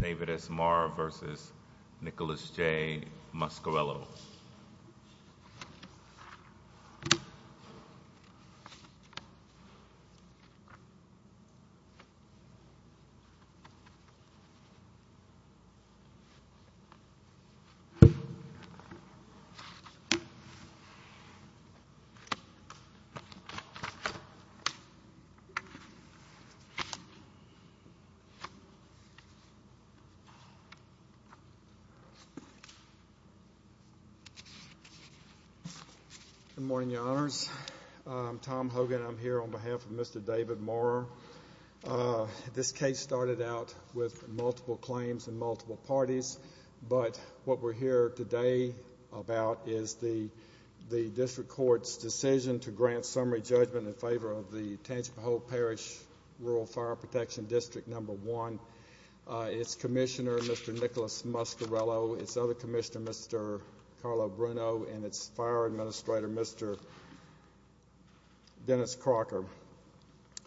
David S. Maurer v. Nicholas J. Muscarello Good morning, Your Honors. I'm Tom Hogan. I'm here on behalf of Mr. David Maurer. This case started out with multiple claims and multiple parties, but what we're here today about is the district court's decision to grant summary judgment in favor of the Tangemahoe Parish Rural Fire Protection District No. 1, its commissioner, Mr. Nicholas Muscarello, its other commissioner, Mr. Carlo Bruno, and its fire administrator, Mr. Dennis Crocker.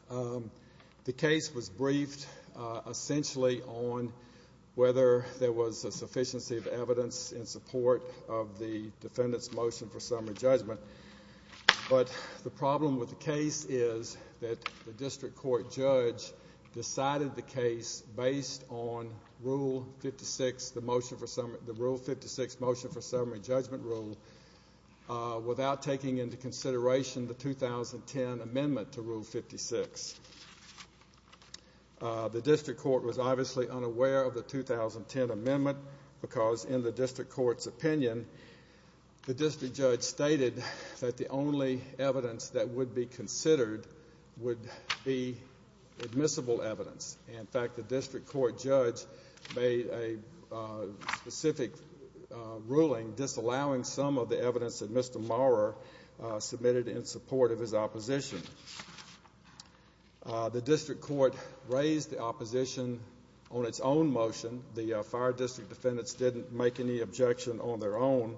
The case was briefed essentially on whether there was a sufficiency of evidence in support of the defendant's motion for summary judgment, but the problem with the case is that the district court judge decided the case based on Rule 56, the Rule 56 motion for summary judgment rule, without taking into consideration the 2010 amendment to Rule 56. The district court was obviously unaware of the 2010 amendment because, in the district court's opinion, the district judge stated that the only evidence that would be considered would be admissible evidence. In fact, the district court judge made a specific ruling disallowing some of the evidence that Mr. Maurer submitted in support of his opposition. The district court raised the opposition on its own motion. The fire district defendants didn't make any objection on their own.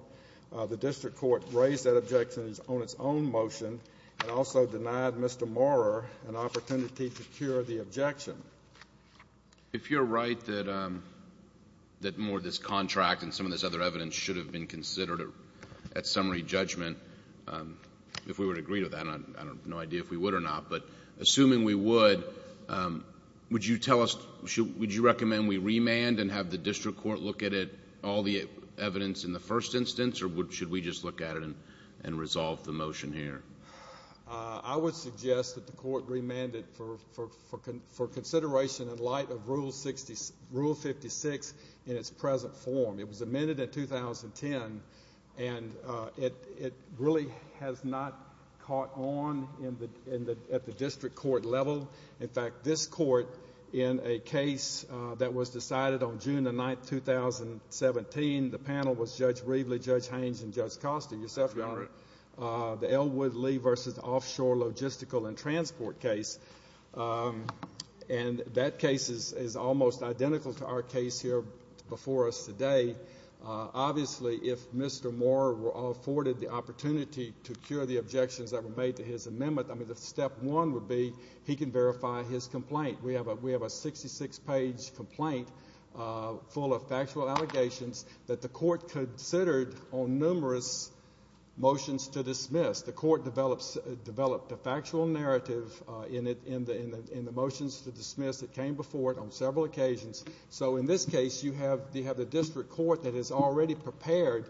The district court raised that objection on its own motion and also denied Mr. Maurer an opportunity to cure the objection. If you're right that more of this contract and some of this other evidence should have been considered at summary judgment, if we would agree to that, I have no idea if we would, would you tell us, would you recommend we remand and have the district court look at it, all the evidence in the first instance, or should we just look at it and resolve the motion here? I would suggest that the court remand it for consideration in light of Rule 56 in its present form. It was amended in 2010, and it really has not caught on at the district court level. In fact, this court, in a case that was decided on June 9, 2017, the panel was Judge Brevely, Judge Haines, and Judge Costa. Yourself, Your Honor. The Elwood Lee v. Offshore Logistical and Transport case, and that case is almost identical to our case here before us today. Obviously, if Mr. Maurer were afforded the opportunity to cure the objections that were made to his amendment, I mean, the step one would be he can verify his complaint. We have a 66-page complaint full of factual allegations that the court considered on numerous motions to dismiss. The court developed a factual narrative in the motions to dismiss that came before it on several occasions. So, in this case, you have the district court that has already prepared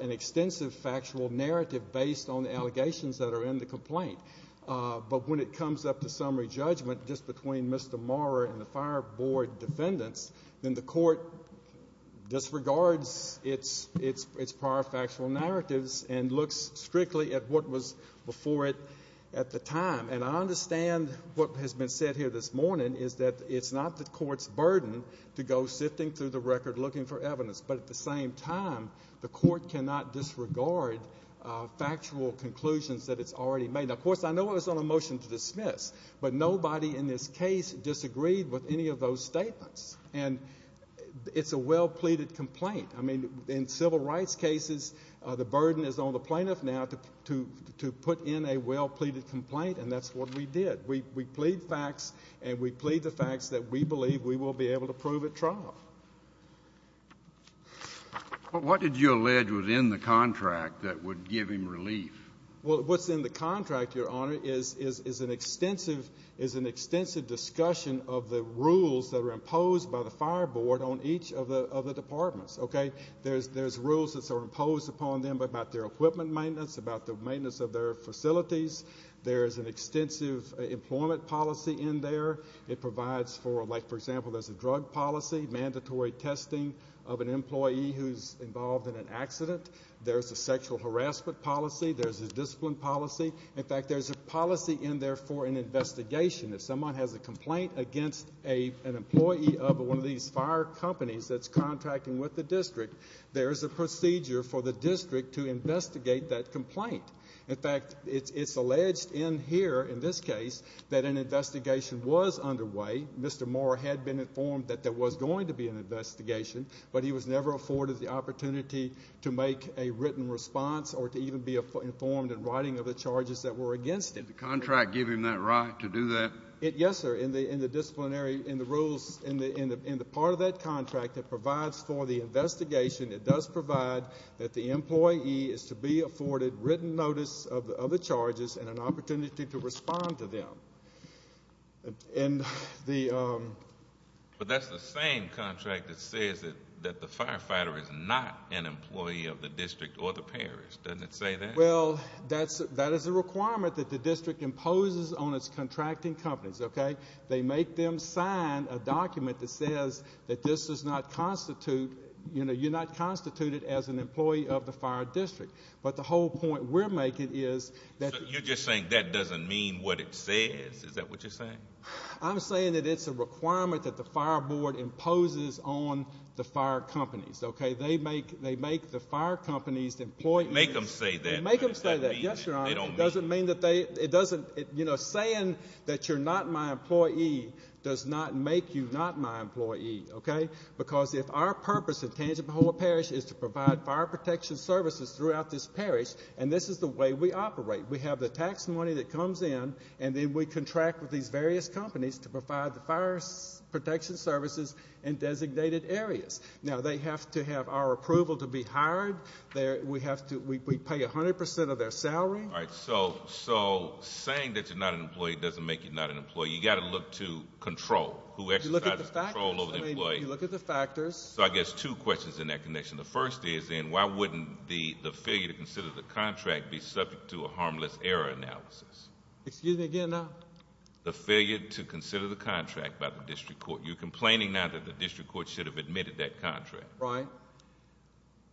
an extensive factual narrative based on the allegations that are in the complaint. But when it comes up to summary judgment, just between Mr. Maurer and the Fire Board defendants, then the court disregards its prior factual narratives and looks strictly at what was before it at the time. And I understand what has been said here this morning is that it's not the court's burden to go sifting through the record looking for evidence, but at the same time, the court cannot disregard factual conclusions that it's already made. Now, of course, I know it was on a motion to dismiss, but nobody in this case disagreed with any of those statements. And it's a well-pleaded complaint. I mean, in civil rights cases, the burden is on the plaintiff now to put in a well-pleaded complaint, and that's what we did. We plead facts, and we plead the facts that we believe we will be able to prove at trial. What did you allege was in the contract that would give him relief? Well, what's in the contract, Your Honor, is an extensive discussion of the rules that are imposed upon them about their equipment maintenance, about the maintenance of their facilities. There's an extensive employment policy in there. It provides for, like, for example, there's a drug policy, mandatory testing of an employee who's involved in an accident. There's a sexual harassment policy. There's a discipline policy. In fact, there's a policy in there for an investigation. If someone has a complaint against an employee of one of these fire companies that's contracting with the district, there's a procedure for the district to investigate that complaint. In fact, it's alleged in here, in this case, that an investigation was underway. Mr. Moore had been informed that there was going to be an investigation, but he was never afforded the opportunity to make a written response or to even be informed in writing of the charges that were against him. Did the contract give him that right to do that? Yes, sir. In the disciplinary, in the rules, in the part of that contract that provides for the investigation, it does provide that the employee is to be afforded written notice of the charges and an opportunity to respond to them. But that's the same contract that says that the firefighter is not an employee of the district or the parish. Doesn't it say that? Well, that is a requirement that the district imposes on its contracting companies. They make them sign a document that says that this does not constitute, you're not constituted as an employee of the fire district. But the whole point we're making is that... You're just saying that doesn't mean what it says. Is that what you're saying? I'm saying that it's a requirement that the fire board imposes on the fire companies. They make the fire companies employ... They make them say that, but does that mean they don't meet it? It doesn't mean that they, it doesn't, you know, saying that you're not my employee does not make you not my employee, okay? Because if our purpose at Tangipahoa Parish is to provide fire protection services throughout this parish, and this is the way we operate. We have the tax money that comes in, and then we contract with these various companies to provide the fire protection services in designated areas. Now, they have to have our approval to be hired. We pay 100% of their salary. So saying that you're not an employee doesn't make you not an employee. You've got to look to control, who exercises control over the employee. You look at the factors. So I guess two questions in that connection. The first is, then, why wouldn't the failure to consider the contract be subject to a harmless error analysis? Excuse me again, now? The failure to consider the contract by the district court. You're complaining now that the district court should have admitted that contract. Right.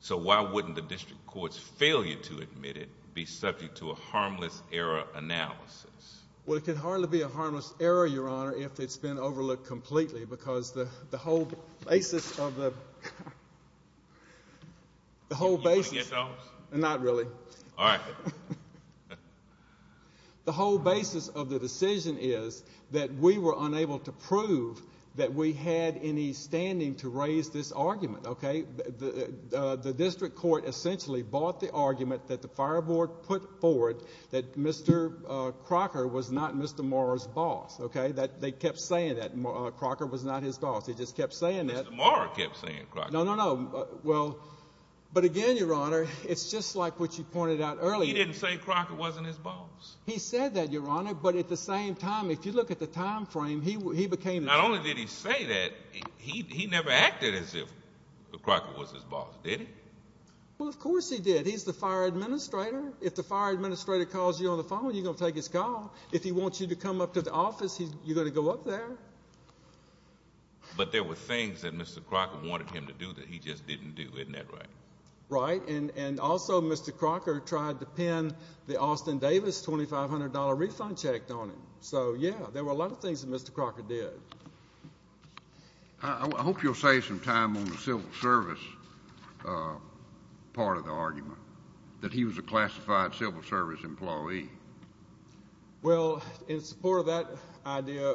So, why wouldn't the district court's failure to admit it be subject to a harmless error analysis? Well, it could hardly be a harmless error, Your Honor, if it's been overlooked completely, because the whole basis of the... The whole basis... Do you want to get those? Not really. All right. The whole basis of the decision is that we were unable to prove that we had any standing to raise this argument, okay? The district court essentially bought the argument that the fire board put forward that Mr. Crocker was not Mr. Maurer's boss, okay? That they kept saying that Crocker was not his boss. They just kept saying that. Mr. Maurer kept saying Crocker. No, no, no. Well, but again, Your Honor, it's just like what you pointed out earlier. He didn't say Crocker wasn't his boss. He said that, Your Honor, but at the same time, if you look at the time frame, he became the... Not only did he say that, he never acted as if Crocker was his boss, did he? Well, of course he did. He's the fire administrator. If the fire administrator calls you on the phone, you're going to take his call. If he wants you to come up to the office, you're going to go up there. But there were things that Mr. Crocker wanted him to do that he just didn't do, isn't that right? Right, and also, Mr. Crocker tried to pin the Austin Davis $2,500 refund check on him. So, yeah, there were a lot of things that Mr. Crocker did. I hope you'll save some time on the civil service part of the argument, that he was a classified civil service employee. Well, in support of that idea,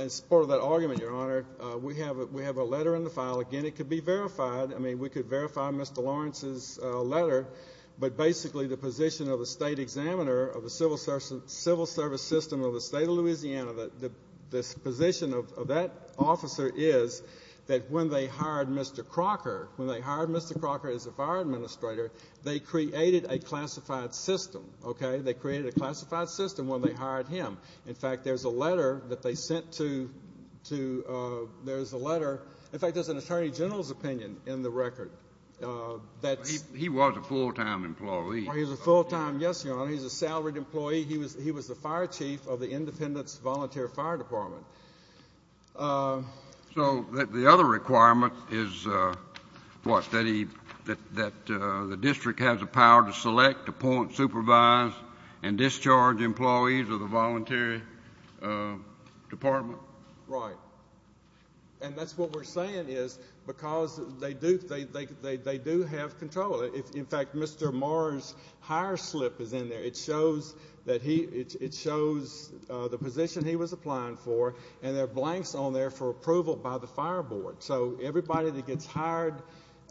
in support of that argument, Your Honor, we have a letter in the file. Again, it could be verified. I mean, we could verify Mr. Lawrence's letter, but basically the position of the state examiner of the civil service system of the state of Louisiana, the position of that officer is that when they hired Mr. Crocker, when they hired Mr. Crocker as the fire administrator, they created a classified system, okay? They created a classified system when they hired him. In fact, there's a letter that they sent to, there's a letter, in fact, there's an attorney general's opinion in the record. He was a full-time employee. He was a full-time, yes, Your Honor. He was a salaried employee. He was the fire chief of the Independence Voluntary Fire Department. So the other requirement is what, that he, that the district has a power to select, appoint, supervise, and discharge employees of the voluntary department? Right. And that's what we're saying is because they do, they do have control. In fact, Mr. Maurer's hire slip is in there. It shows that he, it shows the position he was applying for, and there are blanks on there for approval by the fire board. So everybody that gets hired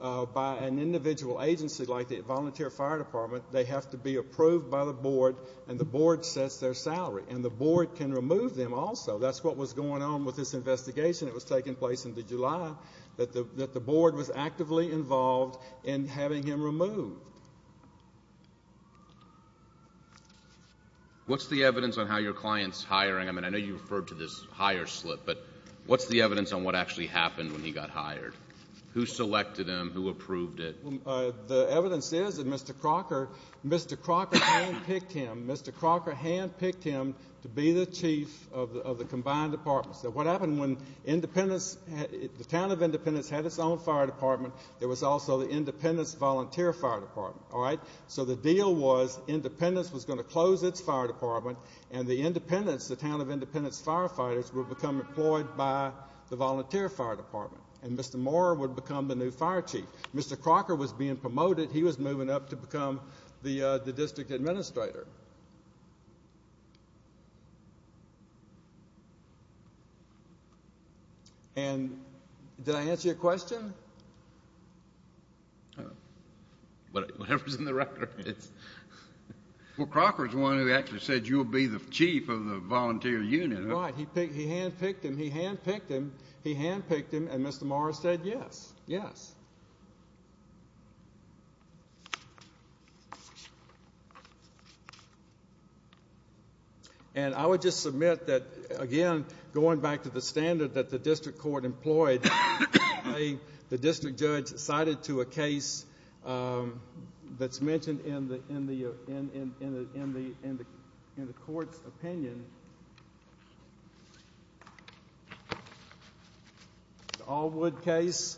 by an individual agency like the Voluntary Fire Department, they have to be approved by the board, and the board sets their salary. And the board can remove them also. That's what was going on with this investigation. It was taking place in the July, that the board. What's the evidence on how your client's hiring? I mean, I know you referred to this hire slip, but what's the evidence on what actually happened when he got hired? Who selected him? Who approved it? The evidence is that Mr. Crocker, Mr. Crocker handpicked him, Mr. Crocker handpicked him to be the chief of the combined departments. Now, what happened when Independence, the town of Independence had its own fire department, there was also the Independence Volunteer Fire Department, all right? So the deal was Independence was going to close its fire department, and the Independence, the town of Independence firefighters, would become employed by the Volunteer Fire Department, and Mr. Moore would become the new fire chief. Mr. Crocker was being promoted. He was moving up to become the district administrator. And, did I answer your question? Whatever's in the record. Well, Crocker's the one who actually said, you'll be the chief of the volunteer unit. Right, he handpicked him, he handpicked him, he handpicked him, and Mr. Moore said, yes, yes. And I would just submit that, again, going back to the standard that the district court employed, the district judge cited to a case that's mentioned in the court's opinion, the Allwood case,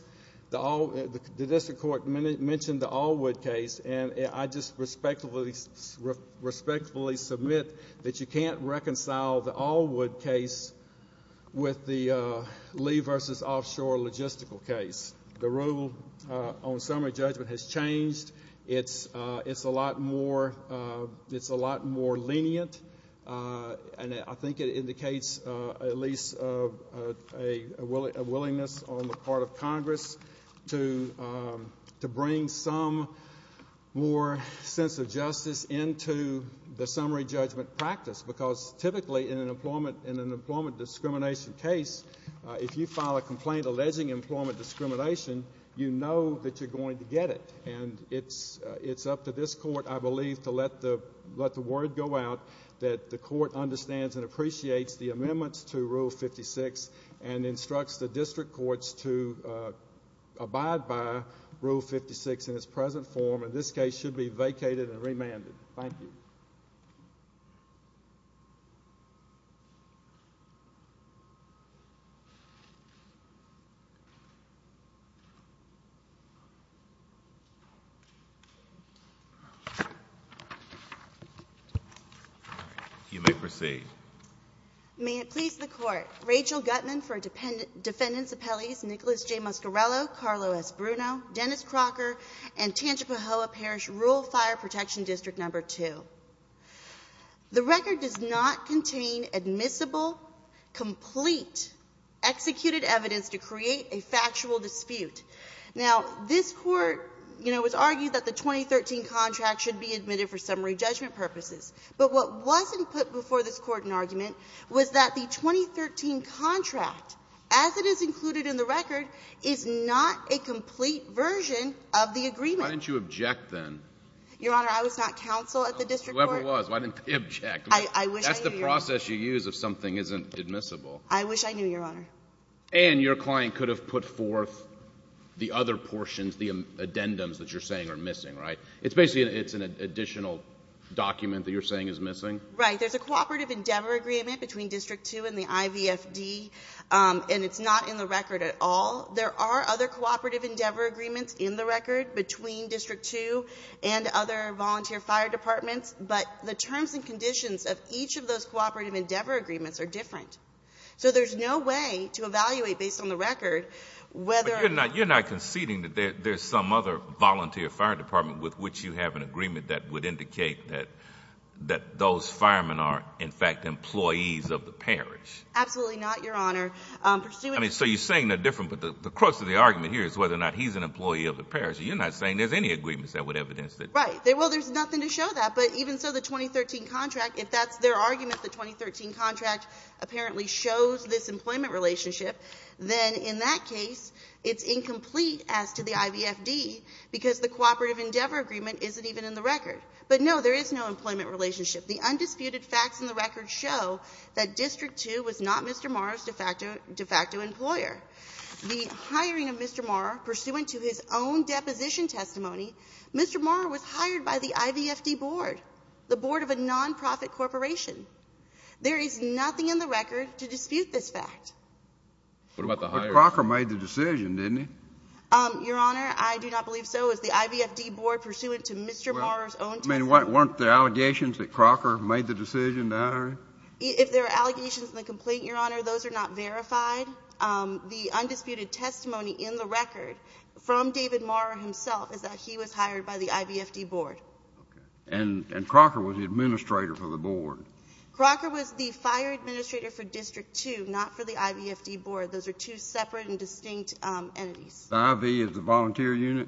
the district court mentioned the Allwood case, and I just respectfully submit that you can't reconcile the Allwood case with the Lee v. Offshore logistical case. The rule on summary judgment has changed. It's a lot more lenient, and I think it indicates at least a willingness on the part of Congress to bring some more sense of justice into the summary judgment practice, because typically in an employment discrimination case, if you file a complaint alleging employment discrimination, you know that you're going to get it. And it's up to this court, I believe, to let the word go out that the court understands and appreciates the amendments to Rule 56 and instructs the district courts to abide by present form, and this case should be vacated and remanded. Thank you. You may proceed. May it please the Court. Rachel Gutman for Defendant's Appellees, Nicholas J. Muscarello, Carlo S. Bruno, Dennis Crocker, and Tangipahoa Parish Rural Fire Protection District No. 2. The record does not contain admissible, complete, executed evidence to create a factual dispute. Now, this Court, you know, has argued that the 2013 contract should be admitted for summary judgment purposes, but what wasn't put before this Court in argument was that the 2013 contract, as it is included in the record, is not a complete version of the agreement. Why didn't you object then? Your Honor, I was not counsel at the district court. Whoever it was, why didn't they object? I wish I knew, Your Honor. That's the process you use if something isn't admissible. I wish I knew, Your Honor. And your client could have put forth the other portions, the addendums that you're saying are missing, right? It's basically an additional document that you're saying is missing? Right. There's a Cooperative Endeavor Agreement between District 2 and the IVFD, and it's not in the record at all. There are other Cooperative Endeavor Agreements in the record between District 2 and other volunteer fire departments, but the terms and conditions of each of those Cooperative Endeavor Agreements are different. So there's no way to evaluate, based on the record, whether But you're not conceding that there's some other volunteer fire department with which you have an agreement that would indicate that those firemen are, in fact, employees of the parish. Absolutely not, Your Honor. So you're saying they're different, but the crux of the argument here is whether or not he's an employee of the parish. You're not saying there's any agreements that would evidence that. Right. Well, there's nothing to show that. But even so, the 2013 contract, if that's their argument, the 2013 contract apparently shows this employment relationship, then in that case, it's incomplete as to the IVFD because the Cooperative Endeavor Agreement isn't even in the record. But no, there is no employment relationship. The undisputed facts in the record show that District 2 was not Mr. Morrow's de facto employer. The hiring of Mr. Morrow, pursuant to his own deposition testimony, Mr. Morrow was hired by the IVFD board, the board of a nonprofit corporation. There is nothing in the record to dispute this fact. What about the hiring? But Crocker made the decision, didn't he? Your Honor, I do not believe so. It was the IVFD board pursuant to Mr. Morrow's own testimony. I mean, weren't there allegations that Crocker made the decision to hire him? If there are allegations in the complaint, Your Honor, those are not verified. The undisputed testimony in the record from David Morrow himself is that he was hired by the IVFD board. Okay. And Crocker was the administrator for the board. Crocker was the fire administrator for District 2, not for the IVFD board. Those are two separate and distinct entities. The IV is the volunteer unit?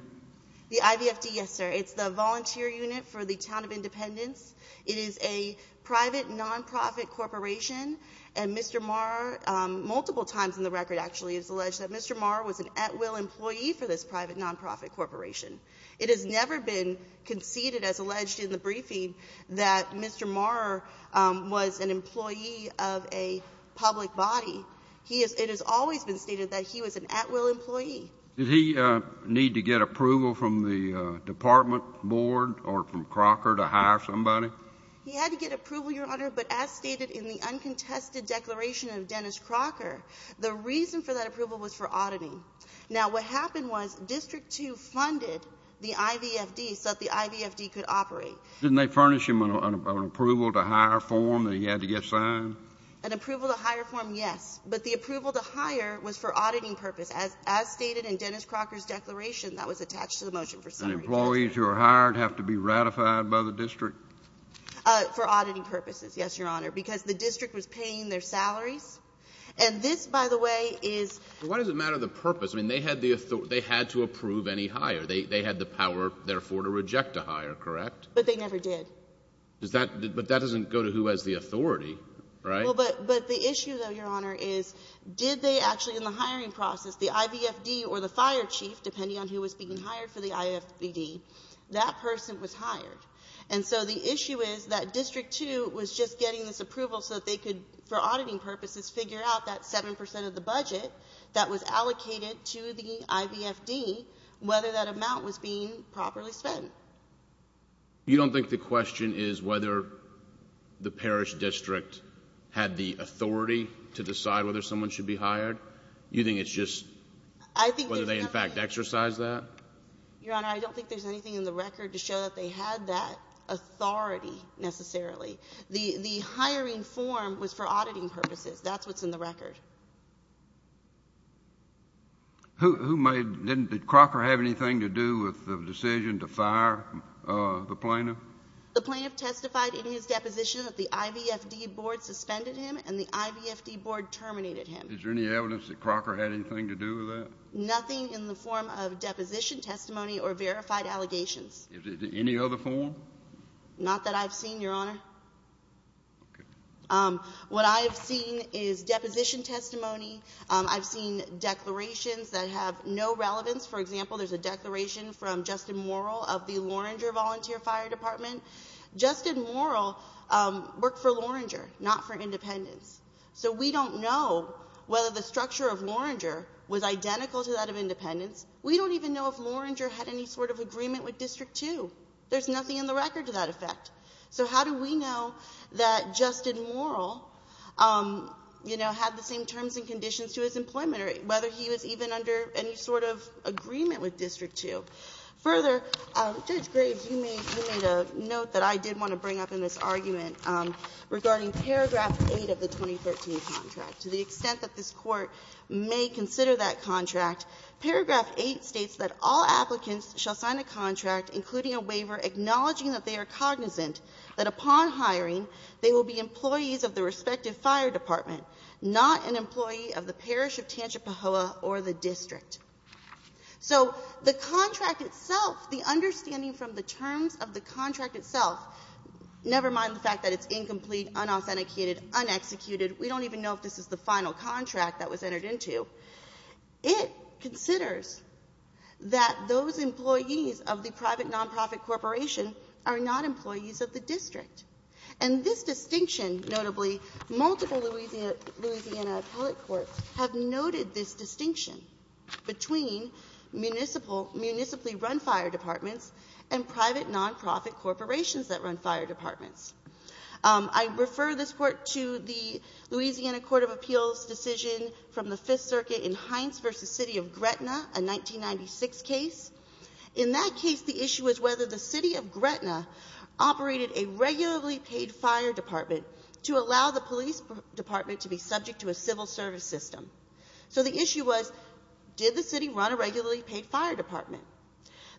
The IVFD, yes, sir. It's the volunteer unit for the Town of Independence. It is a private nonprofit corporation, and Mr. Morrow, multiple times in the record, actually, has alleged that Mr. Morrow was an at-will employee for this private nonprofit corporation. It has never been conceded, as alleged in the briefing, that Mr. Morrow was an employee of a public body. It has always been stated that he was an at-will employee. Did he need to get approval from the department board or from Crocker to hire somebody? He had to get approval, Your Honor, but as stated in the uncontested declaration of Dennis Crocker, the reason for that approval was for oddity. Now, what happened was District 2 funded the IVFD so that the IVFD could operate. Didn't they furnish him an approval-to-hire form that he had to get signed? An approval-to-hire form, yes, but the approval-to-hire was for auditing purposes. As stated in Dennis Crocker's declaration, that was attached to the motion for summary. And employees who are hired have to be ratified by the district? For auditing purposes, yes, Your Honor, because the district was paying their salaries. And this, by the way, is — But why does it matter the purpose? I mean, they had the authority — they had to approve any hire. They had the power, therefore, to reject a hire, correct? But they never did. Does that — but that doesn't go to who has the authority, right? Well, but the issue, though, Your Honor, is did they actually, in the hiring process, the IVFD or the fire chief, depending on who was being hired for the IVFD, that person was hired. And so the issue is that District 2 was just getting this approval so that they could, for auditing purposes, figure out that 7 percent of the budget that was allocated to the IVFD, whether that amount was being properly spent. You don't think the question is whether the parish district had the authority to decide whether someone should be hired? You think it's just whether they, in fact, exercised that? Your Honor, I don't think there's anything in the record to show that they had that authority necessarily. The hiring form was for auditing purposes. That's what's in the record. Who made — did Crocker have anything to do with the decision to fire the plaintiff? The plaintiff testified in his deposition that the IVFD board suspended him and the IVFD board terminated him. Is there any evidence that Crocker had anything to do with that? Nothing in the form of deposition testimony or verified allegations. Any other form? Not that I've seen, Your Honor. What I've seen is deposition testimony. I've seen declarations that have no relevance. For example, there's a declaration from Justin Morrill of the Loringer Volunteer Fire Department. Justin Morrill worked for Loringer, not for Independents. So we don't know whether the structure of Loringer was identical to that of Independents. We don't even know if Loringer had any sort of agreement with District 2. There's nothing in the record to that effect. So how do we know that Justin Morrill, you know, had the same terms and conditions to his employment or whether he was even under any sort of agreement with District 2? Further, Judge Graves, you made a note that I did want to bring up in this argument regarding paragraph 8 of the 2013 contract. To the extent that this Court may consider that contract, paragraph 8 states that all applicants shall sign a contract including a waiver acknowledging that they are cognizant that upon hiring they will be employees of the respective fire department, not an employee of the parish of Tangipahoa or the district. So the contract itself, the understanding from the terms of the contract itself, never mind the fact that it's incomplete, unauthenticated, unexecuted, we don't even know if this is the final contract that was entered into, it considers that those employees of the private nonprofit corporation are not employees of the district. And this distinction, notably, multiple Louisiana appellate courts have noted this distinction between municipally run fire departments and private nonprofit corporations that run fire departments. I refer this Court to the Louisiana Court of Appeals decision from the Fifth Circuit in Hines v. City of Gretna, a 1996 case. In that case, the issue was whether the City of Gretna operated a regularly paid fire department to allow the police department to be subject to a civil service system. So the issue was, did the city run a regularly paid fire department?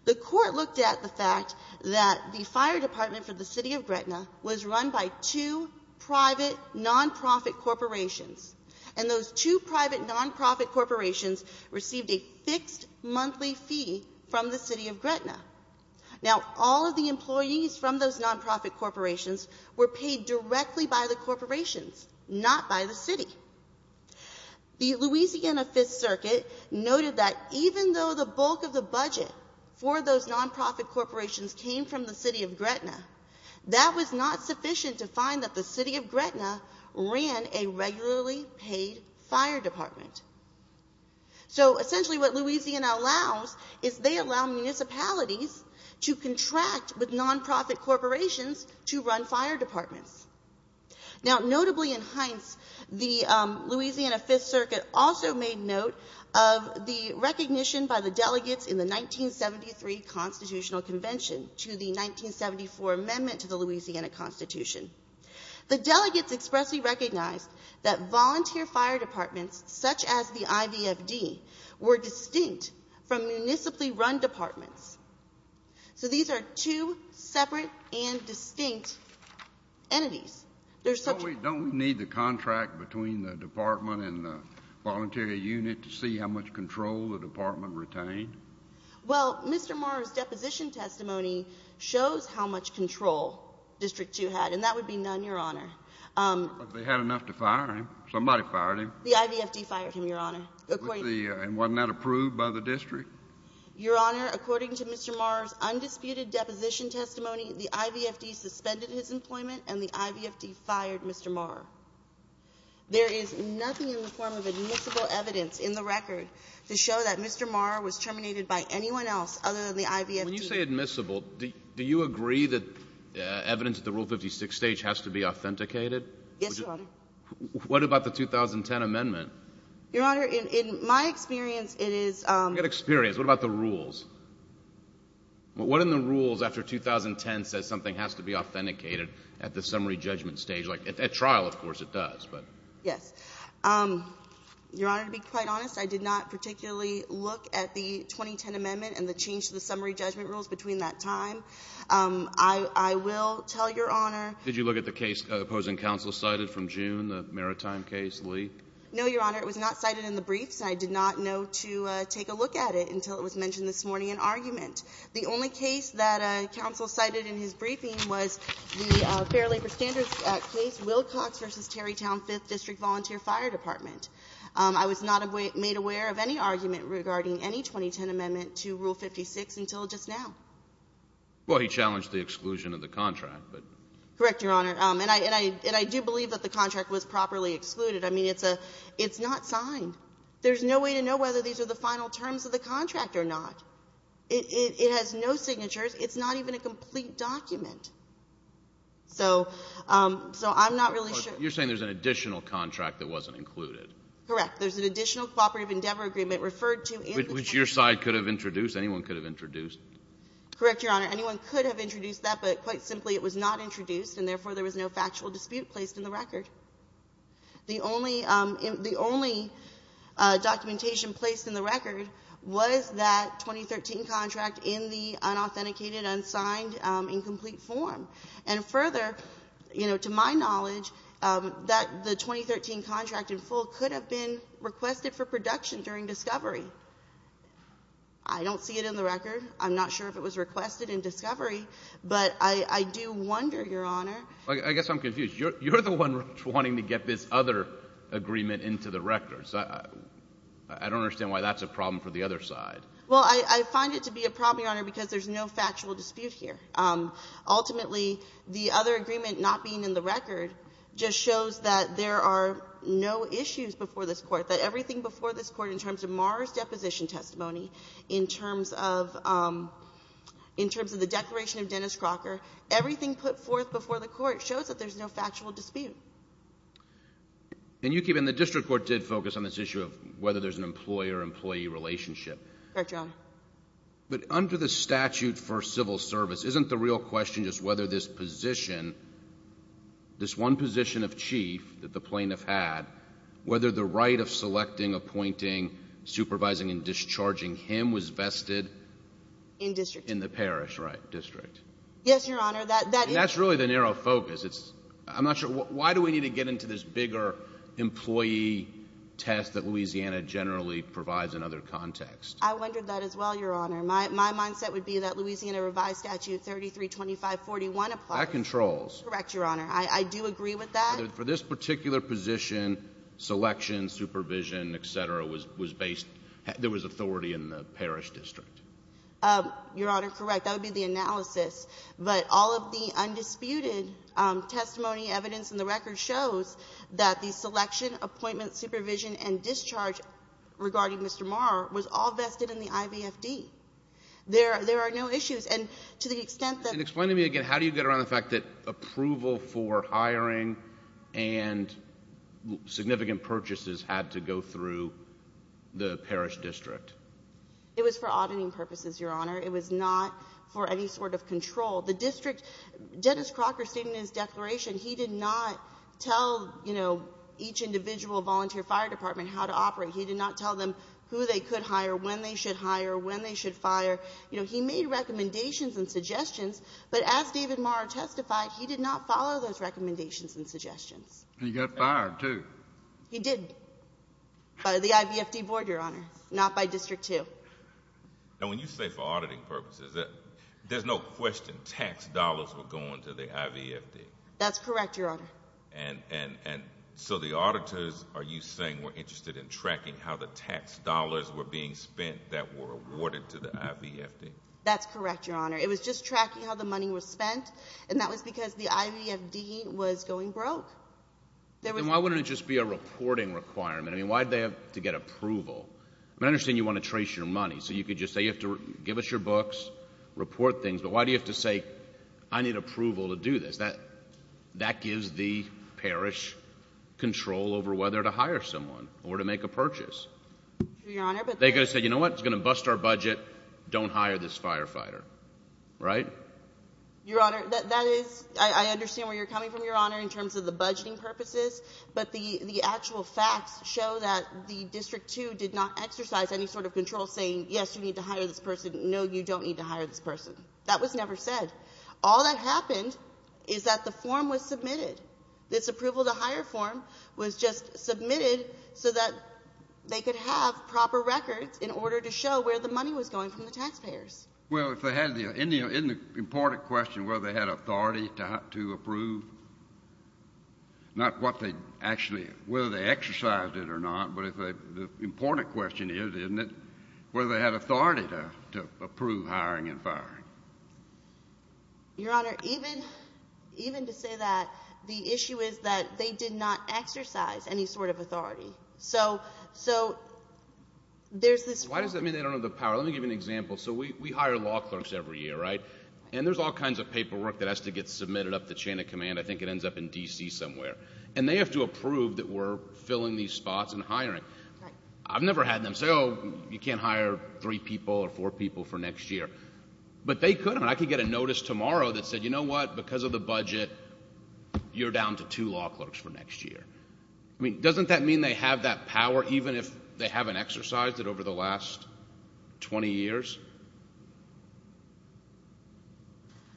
The Court looked at the fact that the fire department for the City of Gretna was run by two private nonprofit corporations. And those two private nonprofit corporations received a fixed monthly fee from the City of Gretna. Now, all of the employees from those nonprofit corporations were paid directly by the corporations, not by the city. The Louisiana Fifth Circuit noted that even though the bulk of the budget for those nonprofit corporations came from the City of Gretna, that was not sufficient to find that the City of Gretna ran a regularly paid fire department. So essentially what Louisiana allows is they allow municipalities to contract with nonprofit corporations to run fire departments. Now, notably in Hines, the Louisiana Fifth Circuit also made note of the recognition by the delegates in the 1973 Constitutional Convention to the 1974 Amendment to the Louisiana Constitution. The delegates expressly recognized that volunteer fire departments, such as the IVFD, were distinct from municipally run departments. So these are two separate and distinct entities. So we don't need the contract between the department and the voluntary unit to see how much control the department retained? Well, Mr. Morrow's deposition testimony shows how much control District 2 had, and that would be none, Your Honor. But they had enough to fire him. Somebody fired him. The IVFD fired him, Your Honor. And wasn't that approved by the district? Your Honor, according to Mr. Morrow's undisputed deposition testimony, the IVFD suspended his employment and the IVFD fired Mr. Morrow. There is nothing in the form of admissible evidence in the record to show that Mr. Morrow was terminated by anyone else other than the IVFD. When you say admissible, do you agree that evidence at the Rule 56 stage has to be authenticated? Yes, Your Honor. What about the 2010 Amendment? Your Honor, in my experience, it is — I don't get experience. What about the rules? What in the rules after 2010 says something has to be authenticated at the summary judgment stage? At trial, of course, it does. Yes. Your Honor, to be quite honest, I did not particularly look at the 2010 Amendment and the change to the summary judgment rules between that time. I will tell Your Honor — Did you look at the case opposing counsel cited from June, the Maritime case, Lee? No, Your Honor. It was not cited in the briefs, and I did not know to take a look at it until it was mentioned this morning in argument. The only case that counsel cited in his briefing was the Fair Labor Standards case, Wilcox v. Terrytown Fifth District Volunteer Fire Department. I was not made aware of any argument regarding any 2010 Amendment to Rule 56 until just now. Well, he challenged the exclusion of the contract, but — Correct, Your Honor. And I do believe that the contract was properly excluded. I mean, it's not signed. There's no way to know whether these are the final terms of the contract or not. It has no signatures. It's not even a complete document. So I'm not really sure — You're saying there's an additional contract that wasn't included. Correct. There's an additional cooperative endeavor agreement referred to and — Which your side could have introduced. Anyone could have introduced. Correct, Your Honor. Anyone could have introduced that, but quite simply, it was not introduced, and therefore there was no factual dispute placed in the record. The only — the only documentation placed in the record was that 2013 contract in the unauthenticated, unsigned, incomplete form. And further, you know, to my knowledge, that — the 2013 contract in full could have been requested for production during discovery. I don't see it in the record. I'm not sure if it was requested in discovery, but I do wonder, Your Honor — I guess I'm confused. You're the one wanting to get this other agreement into the record. I don't understand why that's a problem for the other side. Well, I find it to be a problem, Your Honor, because there's no factual dispute here. Ultimately, the other agreement not being in the record just shows that there are no issues before this Court, that everything before this Court in terms of Maher's deposition testimony, in terms of — in terms of the declaration of Dennis Crocker, everything put forth before the Court shows that there's no factual dispute. And you keep — and the district court did focus on this issue of whether there's an employer-employee relationship. Correct, Your Honor. But under the statute for civil service, isn't the real question just whether this position, this one position of chief that the plaintiff had, whether the right of selecting, appointing, supervising, and discharging him was vested — In district. In the parish, right, district. Yes, Your Honor. That is — And that's really the narrow focus. It's — I'm not sure — why do we need to get into this bigger employee test that Louisiana generally provides in other contexts? I wondered that as well, Your Honor. My mindset would be that Louisiana revised statute 332541 applies. That controls. Correct, Your Honor. I do agree with that. Whether for this particular position, selection, supervision, et cetera, was based — there was authority in the parish district. Your Honor, correct. That would be the analysis. But all of the undisputed testimony, evidence, and the record shows that the selection, appointment, supervision, and discharge regarding Mr. Marr was all vested in the IVFD. There are no issues. And to the extent that — And explain to me again, how do you get around the fact that approval for hiring and significant purchases had to go through the parish district? It was for auditing purposes, Your Honor. It was not for any sort of control. The district — Dennis Crocker stated in his declaration he did not tell, you know, each individual volunteer fire department how to operate. He did not tell them who they could hire, when they should hire, when they should fire. You know, he made recommendations and suggestions. But as David Marr testified, he did not follow those recommendations and suggestions. He got fired, too. He did. By the IVFD board, Your Honor, not by District 2. And when you say for auditing purposes, there's no question tax dollars were going to the IVFD. That's correct, Your Honor. And so the auditors, are you saying, were interested in tracking how the tax dollars were being spent that were awarded to the IVFD? That's correct, Your Honor. It was just tracking how the money was spent, and that was because the IVFD was going broke. Then why wouldn't it just be a reporting requirement? I mean, why did they have to get approval? I mean, I understand you want to trace your money. So you could just say, give us your books, report things. But why do you have to say, I need approval to do this? That gives the parish control over whether to hire someone or to make a purchase. They could have said, you know what, it's going to bust our budget. Don't hire this firefighter. Right? Your Honor, that is, I understand where you're coming from, Your Honor, in terms of the budgeting purposes. But the actual facts show that the District 2 did not exercise any sort of control saying, yes, you need to hire this person, no, you don't need to hire this person. That was never said. All that happened is that the form was submitted. This approval-to-hire form was just submitted so that they could have proper records in order to show where the money was going from the taxpayers. Well, if they had any important question whether they had authority to approve, not what they actually, whether they exercised it or not, but if they, the important question is, isn't it, whether they had authority to approve hiring and firing. Your Honor, even to say that, the issue is that they did not exercise any sort of authority. So there's this. Why does that mean they don't have the power? Let me give you an example. So we hire law clerks every year, right? And there's all kinds of paperwork that has to get submitted up the chain of command. I think it ends up in D.C. somewhere. And they have to approve that we're filling these spots and hiring. I've never had them say, oh, you can't hire three people or four people for next year. But they could have. I could get a notice tomorrow that said, you know what, because of the budget, you're down to two law clerks for next year. I mean, doesn't that mean they have that power even if they haven't exercised it over the last 20 years?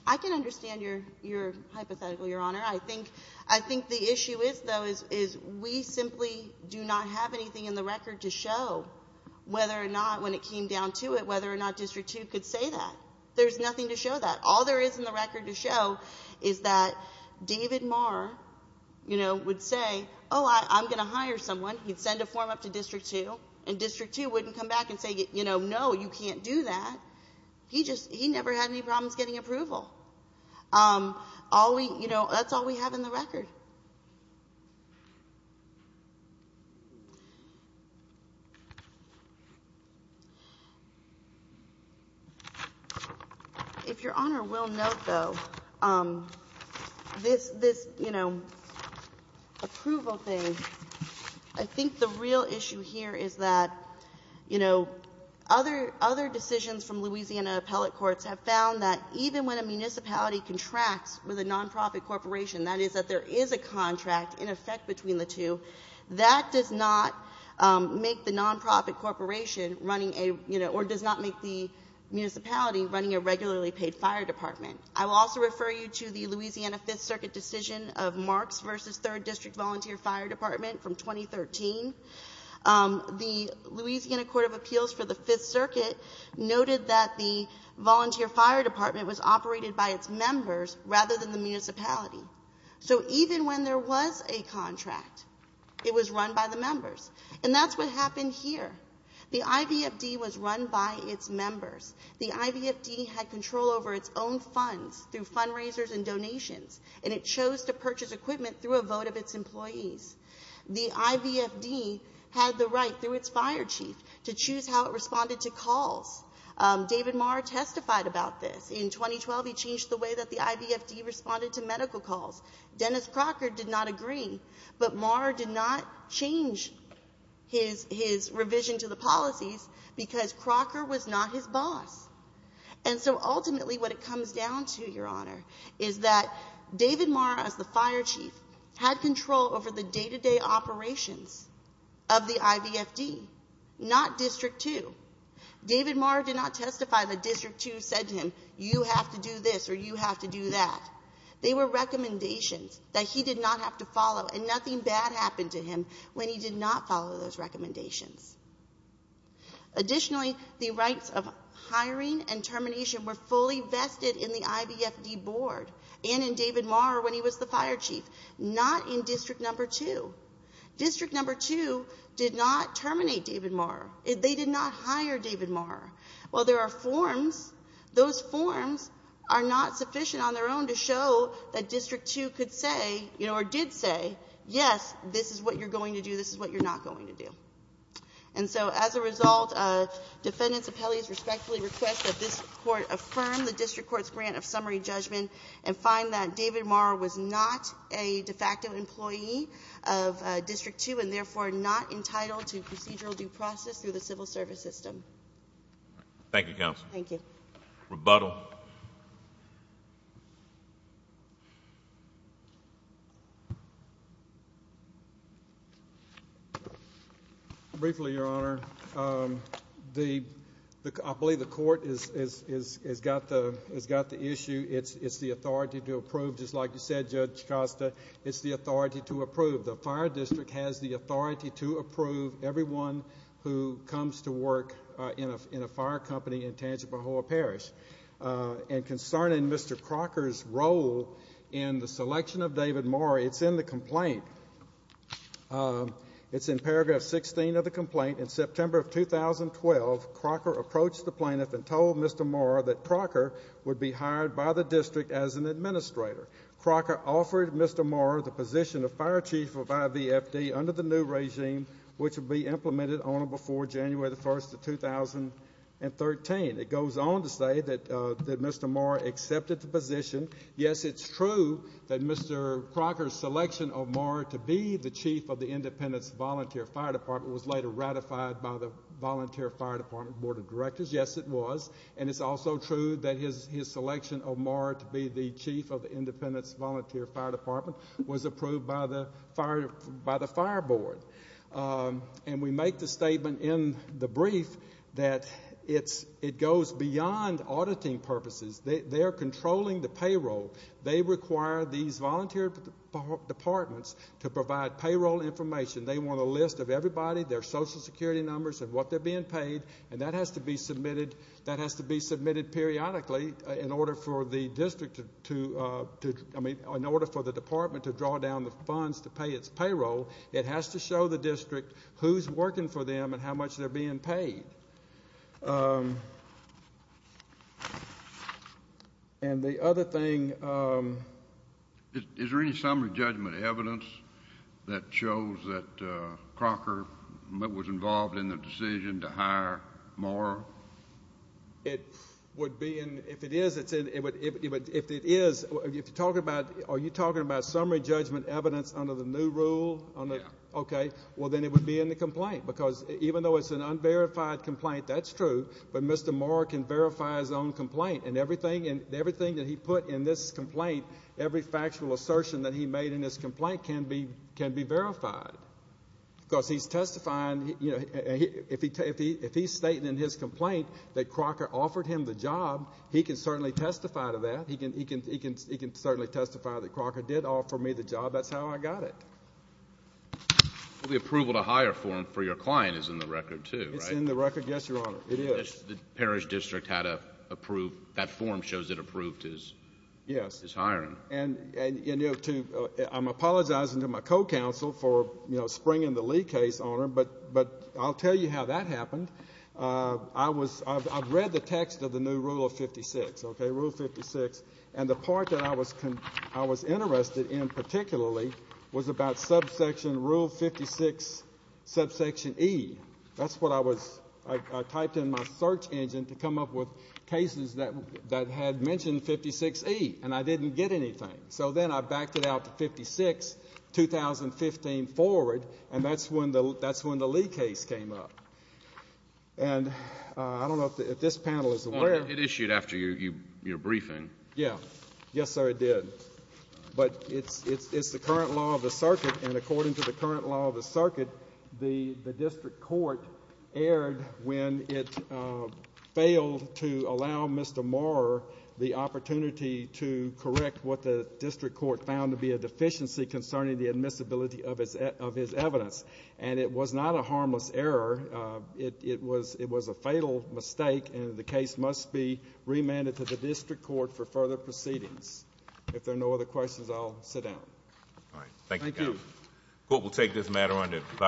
I can understand your hypothetical, Your Honor. I think the issue is, though, is we simply do not have anything in the record to show whether or not, when it came down to it, whether or not District 2 could say that. There's nothing to show that. All there is in the record to show is that David Marr, you know, would say, oh, I'm going to hire someone. He'd send a form up to District 2, and District 2 wouldn't come back and say, you know, no, you can't do that. He never had any problems getting approval. That's all we have in the record. If Your Honor will note, though, this, you know, approval thing, I think the real issue here is that, you know, other decisions from Louisiana appellate courts have found that even when a municipality contracts with a nonprofit corporation, that is, that there is a contract in effect between the two, that does not make the nonprofit corporation running a, you know, or does not make the municipality running a regularly paid fire department. I will also refer you to the Louisiana Fifth Circuit decision of Marks v. Third District Volunteer Fire Department from 2013. The Louisiana Court of Appeals for the Fifth Circuit noted that the Volunteer Fire Department was operated by its members rather than the municipality. So even when there was a contract, it was run by the members. And that's what happened here. The IVFD was run by its members. The IVFD had control over its own funds through fundraisers and donations, and it chose to purchase equipment through a vote of its employees. The IVFD had the right, through its fire chief, to choose how it responded to calls. David Marr testified about this. In 2012, he changed the way that the IVFD responded to medical calls. Dennis Crocker did not agree, but Marr did not change his revision to the policies because Crocker was not his boss. And so ultimately what it comes down to, Your Honor, is that David Marr, as the fire chief, had control over the day-to-day operations of the IVFD, not District 2. David Marr did not testify that District 2 said to him, you have to do this or you have to do that. They were recommendations that he did not have to follow, and nothing bad happened to him when he did not follow those recommendations. Additionally, the rights of hiring and termination were fully vested in the IVFD board and in David Marr when he was the fire chief, not in District 2. District 2 did not terminate David Marr. They did not hire David Marr. While there are forms, those forms are not sufficient on their own to show that District 2 could say, you know, or did say, yes, this is what you're going to do, this is what you're not going to do. And so as a result, defendants' appellees respectfully request that this Court affirm the district court's grant of summary judgment and find that David Marr was not a de facto employee of District 2 and therefore not entitled to procedural due process through the civil service system. Thank you, Counsel. Thank you. Rebuttal. Briefly, Your Honor, I believe the Court has got the issue. It's the authority to approve, just like you said, Judge Costa. It's the authority to approve. The fire district has the authority to approve everyone who comes to work in a fire company in Tangipahoa Parish. And concerning Mr. Crocker's role in the selection of David Marr, it's in the complaint. It's in paragraph 16 of the complaint. In September of 2012, Crocker approached the plaintiff and told Mr. Marr that Crocker would be hired by the district as an administrator. Crocker offered Mr. Marr the position of fire chief of IVFD under the new regime, which would be implemented on or before January 1, 2013. It goes on to say that Mr. Marr accepted the position. Yes, it's true that Mr. Crocker's selection of Marr to be the chief of the Independence Volunteer Fire Department was later ratified by the Volunteer Fire Department Board of Directors. Yes, it was. And it's also true that his selection of Marr to be the chief of the Independence Volunteer Fire Department was approved by the fire board. And we make the statement in the brief that it goes beyond auditing purposes. They are controlling the payroll. They require these volunteer departments to provide payroll information. They want a list of everybody, their Social Security numbers and what they're being paid, and that has to be submitted periodically in order for the department to draw down the funds to pay its payroll. It has to show the district who's working for them and how much they're being paid. And the other thing. Is there any summary judgment evidence that shows that Crocker was involved in the decision to hire Marr? If it is, are you talking about summary judgment evidence under the new rule? Yes. Okay. Well, then it would be in the complaint because even though it's an unverified complaint, that's true, but Mr. Marr can verify his own complaint, and everything that he put in this complaint, every factual assertion that he made in this complaint can be verified because he's testifying. If he's stating in his complaint that Crocker offered him the job, he can certainly testify to that. He can certainly testify that Crocker did offer me the job. That's how I got it. Well, the approval to hire for him for your client is in the record too, right? It's in the record, yes, Your Honor. It is. The parish district had approved. That form shows it approved his hiring. Yes. And I'm apologizing to my co-counsel for springing the Lee case on him, but I'll tell you how that happened. I've read the text of the new Rule of 56, okay, Rule of 56, and the part that I was interested in particularly was about subsection Rule 56, subsection E. That's what I was, I typed in my search engine to come up with cases that had mentioned 56E, and I didn't get anything. So then I backed it out to 56, 2015 forward, and that's when the Lee case came up. And I don't know if this panel is aware. It issued after your briefing. Yes, sir, it did. But it's the current law of the circuit, and according to the current law of the circuit, the district court erred when it failed to allow Mr. Maurer the opportunity to correct what the district court found to be a deficiency concerning the admissibility of his evidence, and it was not a harmless error. It was a fatal mistake, and the case must be remanded to the district court for further proceedings. If there are no other questions, I'll sit down. All right. Thank you. Thank you. The court will take this matter under file.